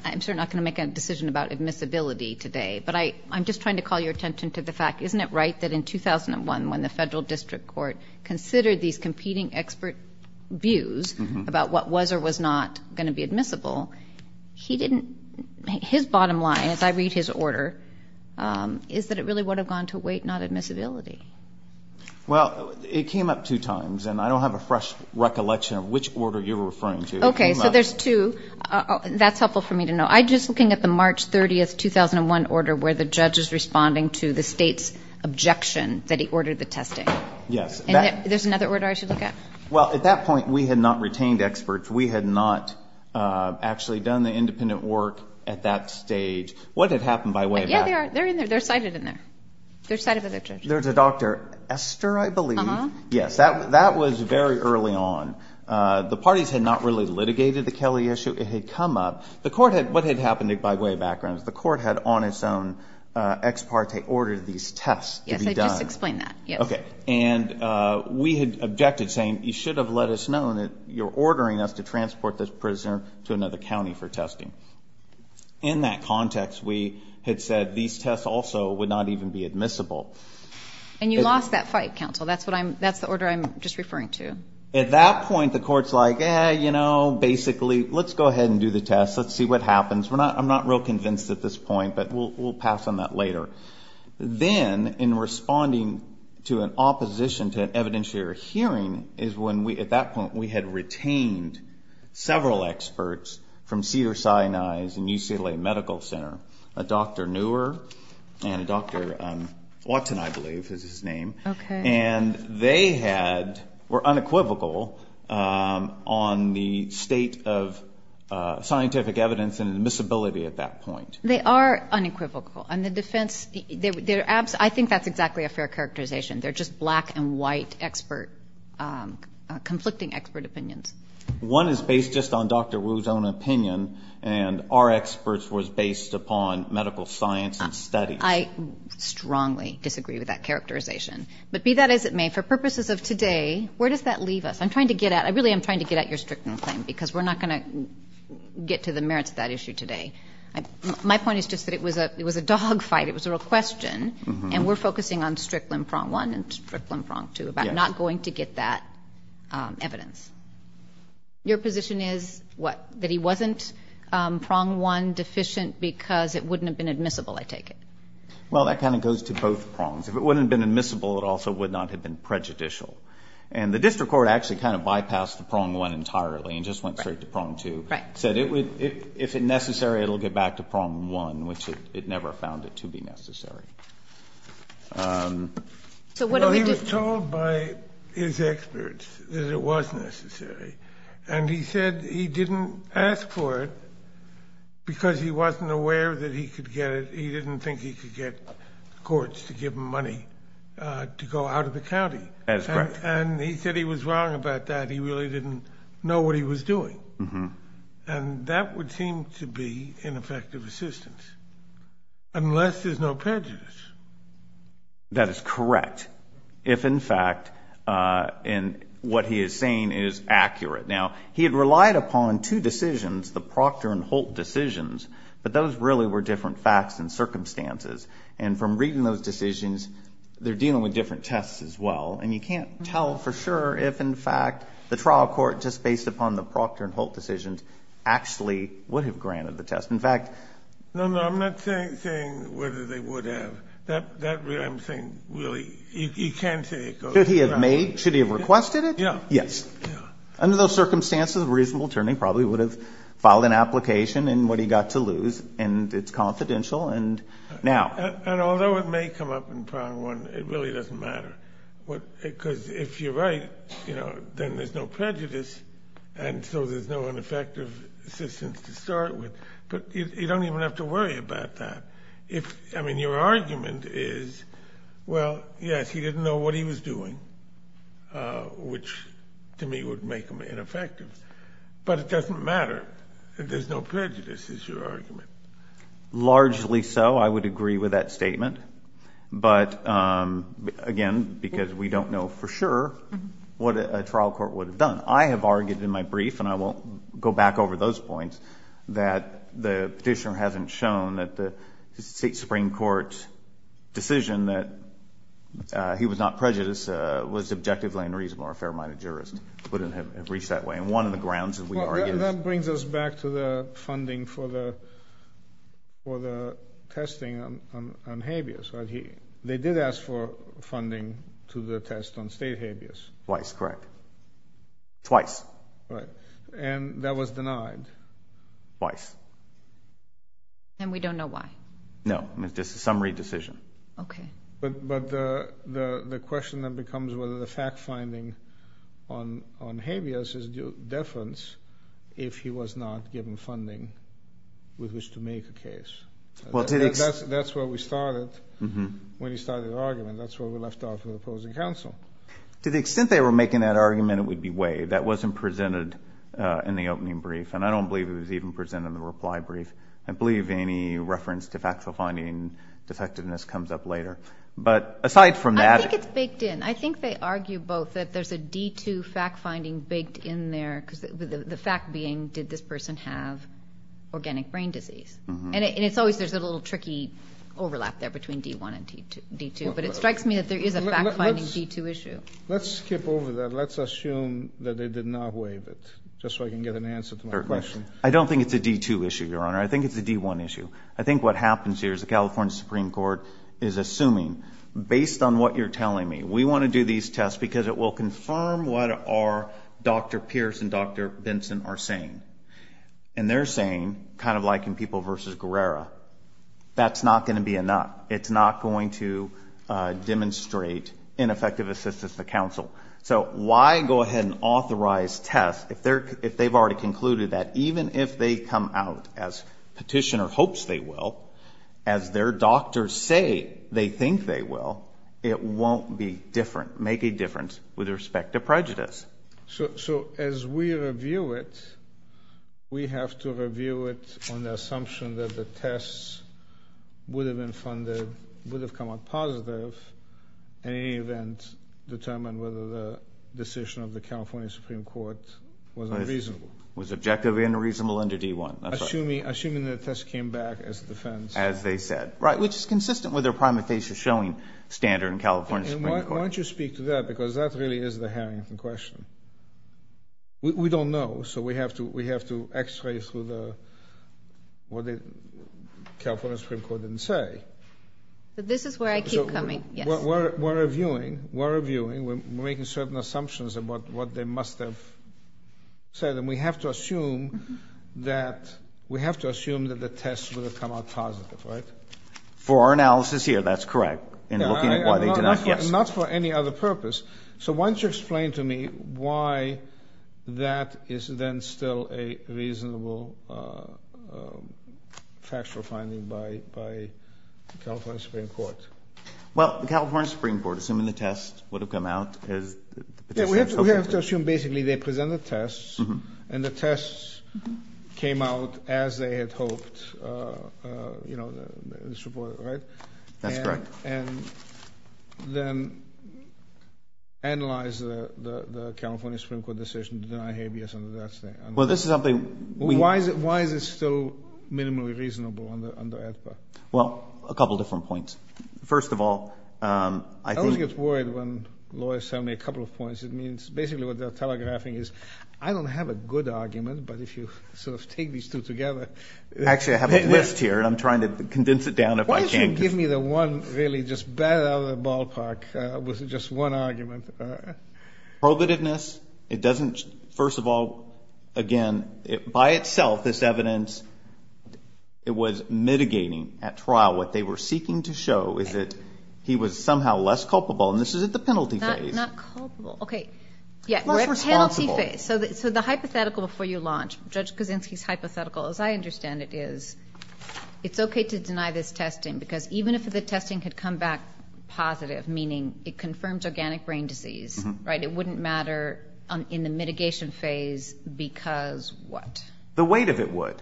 I'm certainly not going to make a decision about admissibility today. But I'm just trying to call your attention to the fact, isn't it right that in 2001, when the federal district court considered these competing expert views about what was or was not going to be admissible, he didn't, his bottom line, as I read his order, is that it really would have gone to weight, not admissibility. Well, it came up two times. And I don't have a fresh recollection of which order you're referring to. Okay. So there's two. That's helpful for me to know. I'm just looking at the March 30, 2001 order where the judge is responding to the state's objection that he ordered the testing. Yes. And there's another order I should look at? Well, at that point, we had not retained experts. We had not actually done the independent work at that stage. What had happened by way of that? Yeah, they're in there. They're cited in there. They're cited by the judge. There's a Dr. Esther, I believe. Uh-huh. Yes. That was very early on. The parties had not really litigated the Kelly issue. It had come up. The court had, what had happened by way of background is the court had on its own ex parte ordered these tests to be done. Yes, I just explained that. Okay. And we had objected, saying you should have let us know that you're ordering us to transport this prisoner to another county for testing. In that context, we had said these tests also would not even be admissible. And you lost that fight, counsel. That's the order I'm just referring to. At that point, the court's like, you know, basically, let's go ahead and do the tests. Let's see what happens. I'm not real convinced at this point, but we'll pass on that later. Then, in responding to an opposition to an evidentiary hearing is when, at that point, we had retained several experts from Cedars-Sinai and UCLA Medical Center, a Dr. Neuer and a Dr. Watson, I believe is his name. Okay. And they were unequivocal on the state of scientific evidence and admissibility at that point. They are unequivocal. And the defense, I think that's exactly a fair characterization. They're just black-and-white expert, conflicting expert opinions. One is based just on Dr. Wu's own opinion, and our experts was based upon medical science and studies. I strongly disagree with that characterization. But be that as it may, for purposes of today, where does that leave us? I'm trying to get at it. I really am trying to get at your stricter claim because we're not going to get to the merits of that issue today. My point is just that it was a dogfight. It was a real question. And we're focusing on Strickland prong one and Strickland prong two, about not going to get that evidence. Your position is what? That he wasn't prong one deficient because it wouldn't have been admissible, I take it? Well, that kind of goes to both prongs. If it wouldn't have been admissible, it also would not have been prejudicial. And the district court actually kind of bypassed the prong one entirely and just went straight to prong two. Right. And said if it's necessary, it will get back to prong one, which it never found it to be necessary. So what do we do? Well, he was told by his experts that it was necessary. And he said he didn't ask for it because he wasn't aware that he could get it. He didn't think he could get courts to give him money to go out of the county. That's correct. And he said he was wrong about that. He really didn't know what he was doing. And that would seem to be ineffective assistance unless there's no prejudice. That is correct if, in fact, what he is saying is accurate. Now, he had relied upon two decisions, the Proctor and Holt decisions, but those really were different facts and circumstances. And from reading those decisions, they're dealing with different tests as well. And you can't tell for sure if, in fact, the trial court, just based upon the Proctor and Holt decisions, actually would have granted the test. In fact, No, no, I'm not saying whether they would have. I'm saying really you can't say it goes. Should he have made, should he have requested it? Yes. Under those circumstances, a reasonable attorney probably would have filed an application in what he got to lose, and it's confidential. And although it may come up in Part 1, it really doesn't matter. Because if you're right, then there's no prejudice, and so there's no ineffective assistance to start with. But you don't even have to worry about that. I mean, your argument is, well, yes, he didn't know what he was doing, which to me would make him ineffective. There's no prejudice is your argument. Largely so. I would agree with that statement. But, again, because we don't know for sure what a trial court would have done. I have argued in my brief, and I won't go back over those points, that the petitioner hasn't shown that the Supreme Court's decision that he was not prejudiced was objectively and reasonably a fair-minded jurist. It wouldn't have reached that way. And one of the grounds that we argue is... He did ask for funding for the testing on habeas. They did ask for funding to the test on state habeas. Twice, correct. Twice. Right. And that was denied. Twice. And we don't know why. No. I mean, it's just a summary decision. Okay. But the question then becomes whether the fact-finding on habeas is due deference if he was not given funding with which to make a case. That's where we started. When he started the argument, that's where we left off with opposing counsel. To the extent they were making that argument, it would be way. That wasn't presented in the opening brief. And I don't believe it was even presented in the reply brief. I believe any reference to fact-finding defectiveness comes up later. But aside from that... I think it's baked in. I think they argue both that there's a D-2 fact-finding baked in there. The fact being, did this person have organic brain disease? And it's always there's a little tricky overlap there between D-1 and D-2. But it strikes me that there is a fact-finding D-2 issue. Let's skip over that. Let's assume that they did not waive it, just so I can get an answer to my question. I don't think it's a D-2 issue, Your Honor. I think it's a D-1 issue. I think what happens here is the California Supreme Court is assuming, based on what you're telling me, we want to do these tests because it will confirm what our Dr. Pierce and Dr. Benson are saying. And they're saying, kind of like in People v. Guerrero, that's not going to be enough. It's not going to demonstrate ineffective assistance to counsel. So why go ahead and authorize tests if they've already concluded that, even if they come out as petitioner hopes they will, as their doctors say they think they will, it won't be different, make a difference with respect to prejudice. So as we review it, we have to review it on the assumption that the tests would have been funded, would have come out positive, in any event, determine whether the decision of the California Supreme Court was unreasonable. Was objectively unreasonable under D-1. Assuming the tests came back as defense. As they said. Right, which is consistent with their prima facie showing standard in California Supreme Court. Why don't you speak to that because that really is the Harrington question. We don't know, so we have to X-ray through what the California Supreme Court didn't say. This is where I keep coming, yes. We're reviewing. We're reviewing. We're making certain assumptions about what they must have said. And we have to assume that, we have to assume that the tests would have come out positive, right? For our analysis here, that's correct. In looking at why they did not, yes. Not for any other purpose. So why don't you explain to me why that is then still a reasonable factual finding by California Supreme Court. Well, the California Supreme Court, assuming the tests would have come out as. We have to assume basically they presented tests and the tests came out as they had hoped, you know, right? That's correct. And then analyze the California Supreme Court decision to deny habeas under that statement. Well, this is something. Why is it still minimally reasonable under AEDPA? Well, a couple different points. First of all, I think. I always get worried when lawyers tell me a couple of points. It means basically what they're telegraphing is I don't have a good argument, but if you sort of take these two together. Actually, I have a list here, and I'm trying to condense it down if I can. Why don't you give me the one really just bad out of the ballpark with just one argument? Probativeness, it doesn't. First of all, again, by itself, this evidence, it was mitigating at trial. What they were seeking to show is that he was somehow less culpable, and this is at the penalty phase. Not culpable. Okay. We're at penalty phase. Less responsible. So the hypothetical before you launch, Judge Kaczynski's hypothetical, as I understand it, is it's okay to deny this testing because even if the testing could come back positive, meaning it confirms organic brain disease, right, it wouldn't matter in the mitigation phase because what? The weight of it would.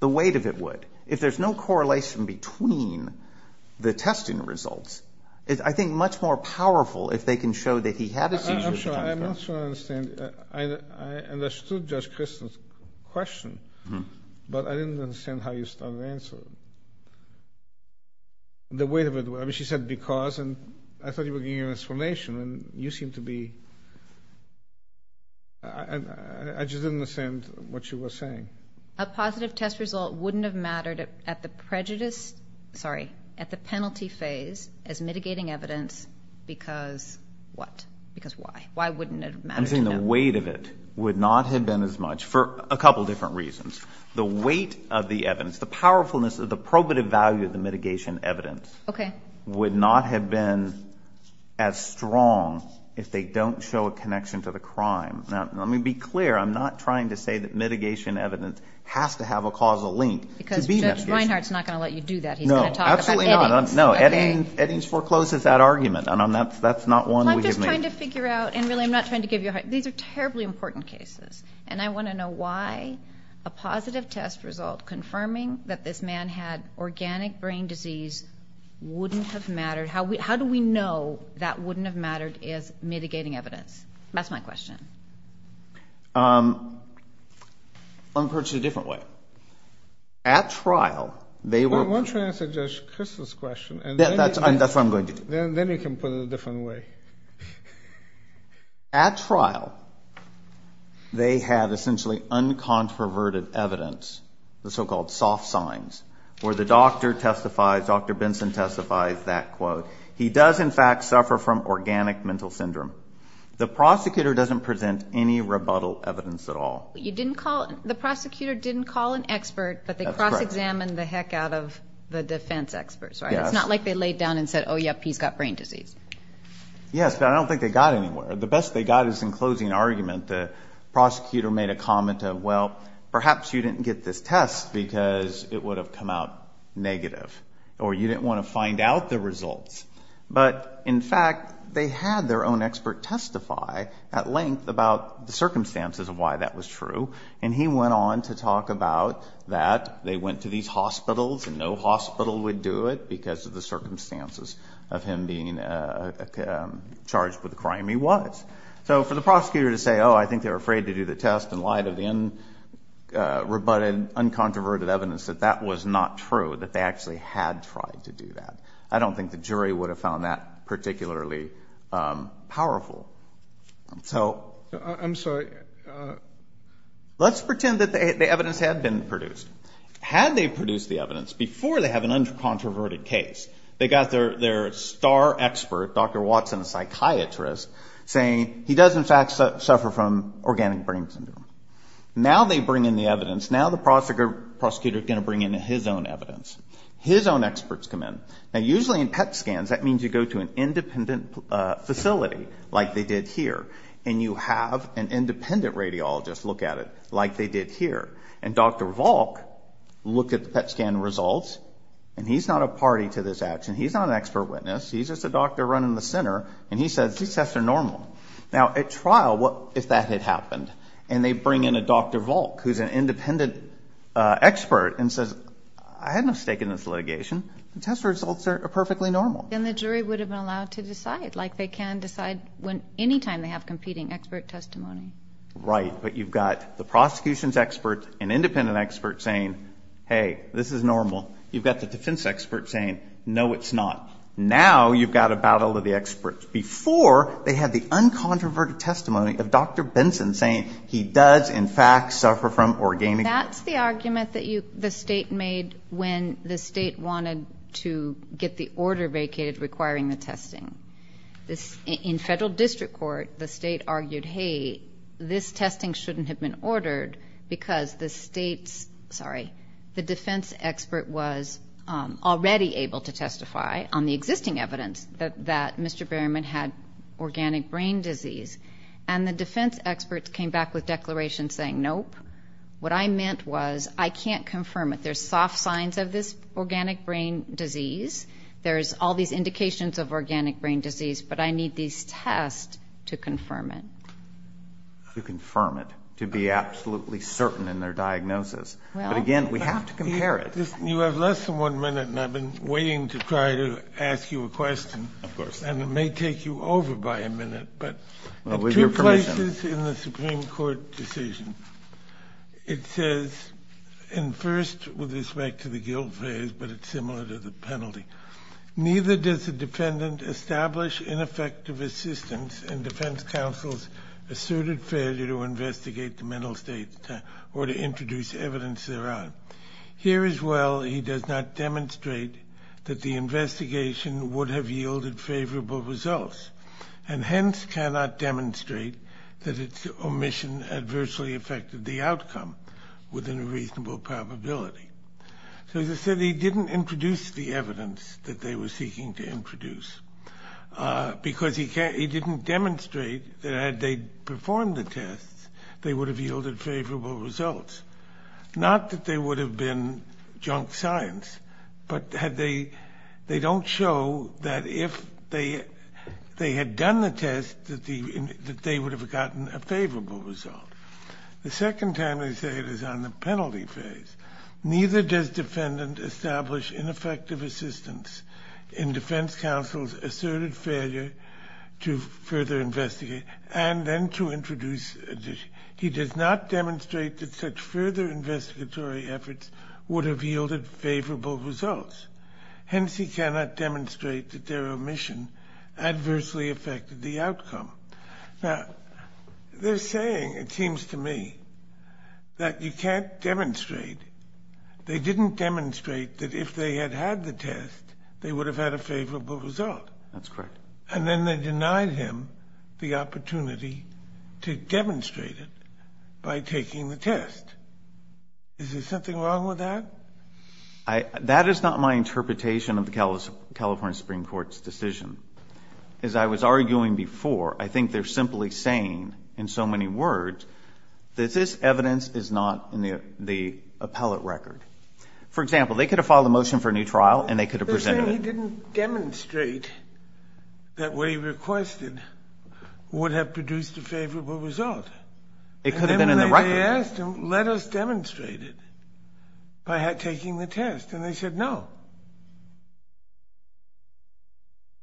The weight of it would. If there's no correlation between the testing results, it's, I think, much more powerful if they can show that he had a seizure. I'm sure. I'm not sure I understand. I understood Judge Kristol's question, but I didn't understand how you started to answer it. The weight of it would. I mean, she said because, and I thought you were giving an explanation, and you seemed to be... I just didn't understand what she was saying. A positive test result wouldn't have mattered at the penalty phase as mitigating evidence because what? Because why? Why wouldn't it have mattered? I'm saying the weight of it would not have been as much for a couple different reasons. The weight of the evidence, the powerfulness, the probative value of the mitigation evidence, would not have been as strong if they don't show a connection to the crime. Now, let me be clear. I'm not trying to say that mitigation evidence has to have a causal link to be mitigated. Because Judge Reinhart's not going to let you do that. He's going to talk about Eddings. No, absolutely not. No, Eddings forecloses that argument, and that's not one we've made. Well, I'm just trying to figure out, and really I'm not trying to give you a hard... These are terribly important cases, and I want to know why a positive test result confirming that this man had organic brain disease wouldn't have mattered. How do we know that wouldn't have mattered is mitigating evidence? That's my question. Let me put it a different way. At trial, they were... Why don't you answer Judge Kristol's question? That's what I'm going to do. Then you can put it a different way. At trial, they had essentially uncontroverted evidence, the so-called soft signs, The prosecutor doesn't present any rebuttal evidence at all. You didn't call... The prosecutor didn't call an expert, but they cross-examined the heck out of the defense experts, right? It's not like they laid down and said, oh, yep, he's got brain disease. Yes, but I don't think they got anywhere. The best they got is in closing argument. The prosecutor made a comment of, well, perhaps you didn't get this test because it would have come out negative, or you didn't want to find out the results. But, in fact, they had their own expert testify at length about the circumstances of why that was true, and he went on to talk about that. They went to these hospitals, and no hospital would do it because of the circumstances of him being charged with a crime he was. So for the prosecutor to say, oh, I think they were afraid to do the test in light of the rebutted, uncontroverted evidence, that that was not true, that they actually had tried to do that. I don't think the jury would have found that particularly powerful. So... I'm sorry. Let's pretend that the evidence had been produced. Had they produced the evidence before they have an uncontroverted case, they got their star expert, Dr. Watson, a psychiatrist, saying he does, in fact, suffer from organic brain syndrome. Now they bring in the evidence. Now the prosecutor is going to bring in his own evidence. His own experts come in. Now usually in PET scans, that means you go to an independent facility like they did here, and you have an independent radiologist look at it like they did here. And Dr. Volk looked at the PET scan results, and he's not a party to this action. He's not an expert witness. He's just a doctor running the center, and he says these tests are normal. Now at trial, what if that had happened? And they bring in a Dr. Volk who's an independent expert and says I had no stake in this litigation. The test results are perfectly normal. Then the jury would have been allowed to decide, like they can decide any time they have competing expert testimony. Right, but you've got the prosecution's expert, an independent expert saying, hey, this is normal. You've got the defense expert saying, no, it's not. Now you've got a battle of the experts. Before they had the uncontroverted testimony of Dr. Benson saying he does, in fact, suffer from organic. That's the argument that the state made when the state wanted to get the order vacated requiring the testing. In federal district court, the state argued, hey, this testing shouldn't have been ordered because the state's, the defense expert was already able to testify on the existing evidence that Mr. Berryman had organic brain disease. And the defense experts came back with declarations saying, nope. What I meant was I can't confirm it. There's soft signs of this organic brain disease. There's all these indications of organic brain disease, but I need these tests to confirm it. To confirm it. To be absolutely certain in their diagnosis. But again, we have to compare it. You have less than one minute, and I've been waiting to try to ask you a question. Of course. And it may take you over by a minute, but two places in the Supreme Court decision. It says, and first with respect to the guilt phase, but it's similar to the penalty. Neither does the defendant establish ineffective assistance in defense counsel's asserted failure to investigate the mental state or to introduce evidence thereof. Here as well, he does not demonstrate that the investigation would have yielded favorable results. And hence cannot demonstrate that its omission adversely affected the outcome within a reasonable probability. So as I said, he didn't introduce the evidence that they were seeking to introduce. Because he didn't demonstrate that had they performed the tests, they would have yielded favorable results. Not that they would have been junk science, but they don't show that if they had done the test, that they would have gotten a favorable result. The second time they say it is on the penalty phase. Neither does defendant establish ineffective assistance in defense counsel's asserted failure to further investigate and then to introduce. He does not demonstrate that such further investigatory efforts would have yielded favorable results. Hence he cannot demonstrate that their omission adversely affected the outcome. Now, they're saying, it seems to me, that you can't demonstrate. They didn't demonstrate that if they had had the test, they would have had a favorable result. That's correct. And then they denied him the opportunity to demonstrate it by taking the test. Is there something wrong with that? That is not my interpretation of the California Supreme Court's decision. As I was arguing before, I think they're simply saying in so many words that this evidence is not in the appellate record. For example, they could have filed a motion for a new trial and they could have presented it. They're saying he didn't demonstrate that what he requested would have produced a favorable result. It could have been in the record. And then when they asked him, let us demonstrate it by taking the test, and they said no.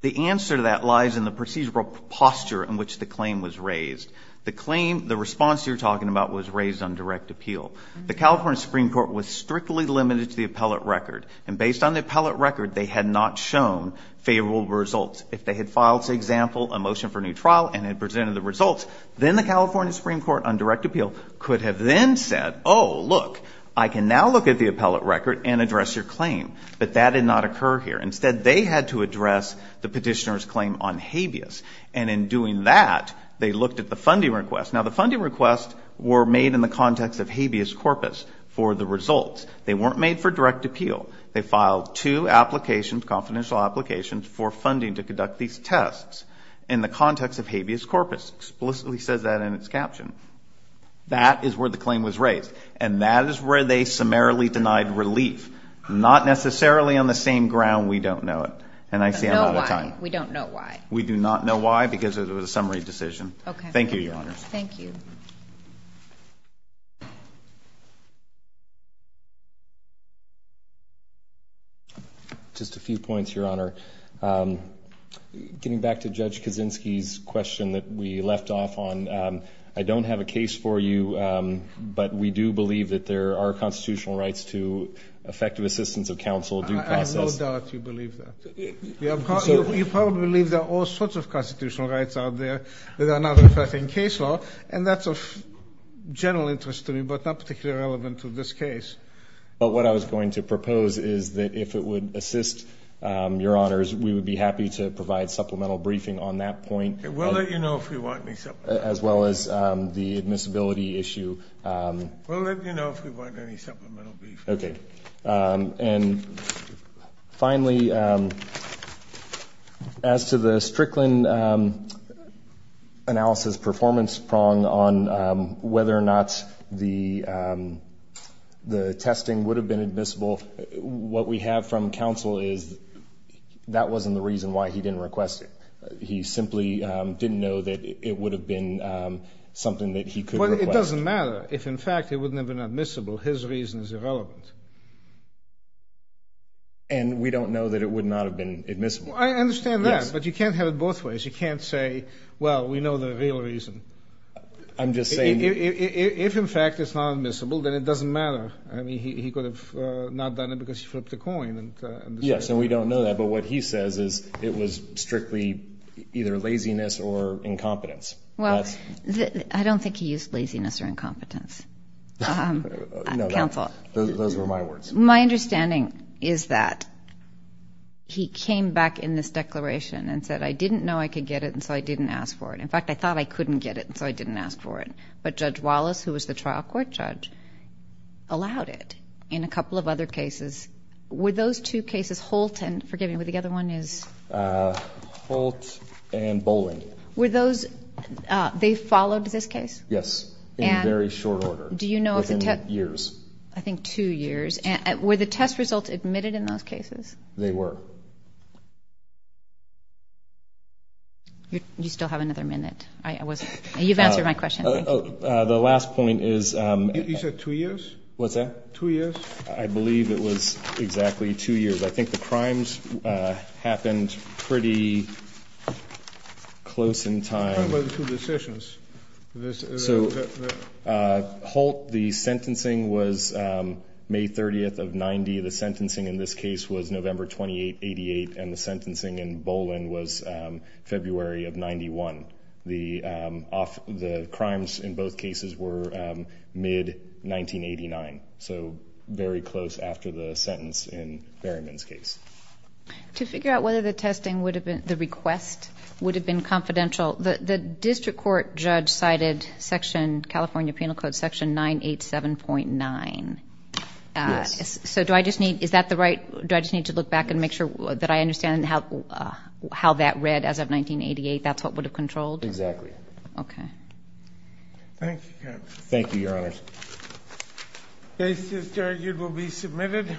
The answer to that lies in the procedural posture in which the claim was raised. The claim, the response you're talking about was raised on direct appeal. The California Supreme Court was strictly limited to the appellate record. And based on the appellate record, they had not shown favorable results. If they had filed, say, example, a motion for a new trial and had presented the results, then the California Supreme Court on direct appeal could have then said, oh, look, I can now look at the appellate record and address your claim. But that did not occur here. Instead, they had to address the petitioner's claim on habeas. And in doing that, they looked at the funding request. Now, the funding requests were made in the context of habeas corpus for the results. They weren't made for direct appeal. They filed two applications, confidential applications, for funding to conduct these tests in the context of habeas corpus. It explicitly says that in its caption. That is where the claim was raised. And that is where they summarily denied relief. Not necessarily on the same ground we don't know it. And I say that all the time. We don't know why. We do not know why because it was a summary decision. Thank you, Your Honor. Thank you. Just a few points, Your Honor. Getting back to Judge Kaczynski's question that we left off on, I don't have a case for you, but we do believe that there are constitutional rights to effective assistance of counsel due process. I have no doubt you believe that. You probably believe there are all sorts of constitutional rights out there that are not affecting case law, and that's of general interest to me but not particularly relevant to this case. But what I was going to propose is that if it would assist Your Honors, we would be happy to provide supplemental briefing on that point. We'll let you know if you want me to. As well as the admissibility issue. We'll let you know if we want any supplemental briefing. Okay. And finally, as to the Strickland analysis performance prong on whether or not the testing would have been admissible, what we have from counsel is that wasn't the reason why he didn't request it. He simply didn't know that it would have been something that he could request. Well, it doesn't matter. If, in fact, it would have been admissible, his reason is irrelevant. And we don't know that it would not have been admissible. I understand that, but you can't have it both ways. You can't say, well, we know the real reason. I'm just saying. If, in fact, it's not admissible, then it doesn't matter. I mean, he could have not done it because he flipped a coin. Yes, and we don't know that. But what he says is it was strictly either laziness or incompetence. Well, I don't think he used laziness or incompetence. Those were my words. My understanding is that he came back in this declaration and said, I didn't know I could get it, and so I didn't ask for it. In fact, I thought I couldn't get it, and so I didn't ask for it. But Judge Wallace, who was the trial court judge, allowed it. In a couple of other cases, were those two cases, Holt and, forgive me, the other one is? Holt and Boling. Were those, they followed this case? Yes, in very short order, within years. I think two years. Were the test results admitted in those cases? They were. You still have another minute. You've answered my question. The last point is. You said two years? What's that? Two years? I believe it was exactly two years. I think the crimes happened pretty close in time. Talk about the two decisions. Holt, the sentencing was May 30th of 1990. The sentencing in this case was November 28th, 1988, and the sentencing in Boling was February of 1991. The crimes in both cases were mid-1989, so very close after the sentence in Berryman's case. To figure out whether the request would have been confidential, the district court judge cited California Penal Code Section 987.9. So do I just need to look back and make sure that I understand how that read as of 1988? That's what would have controlled? Exactly. Okay. Thank you, counsel. Thank you, Your Honors. This is argued will be submitted.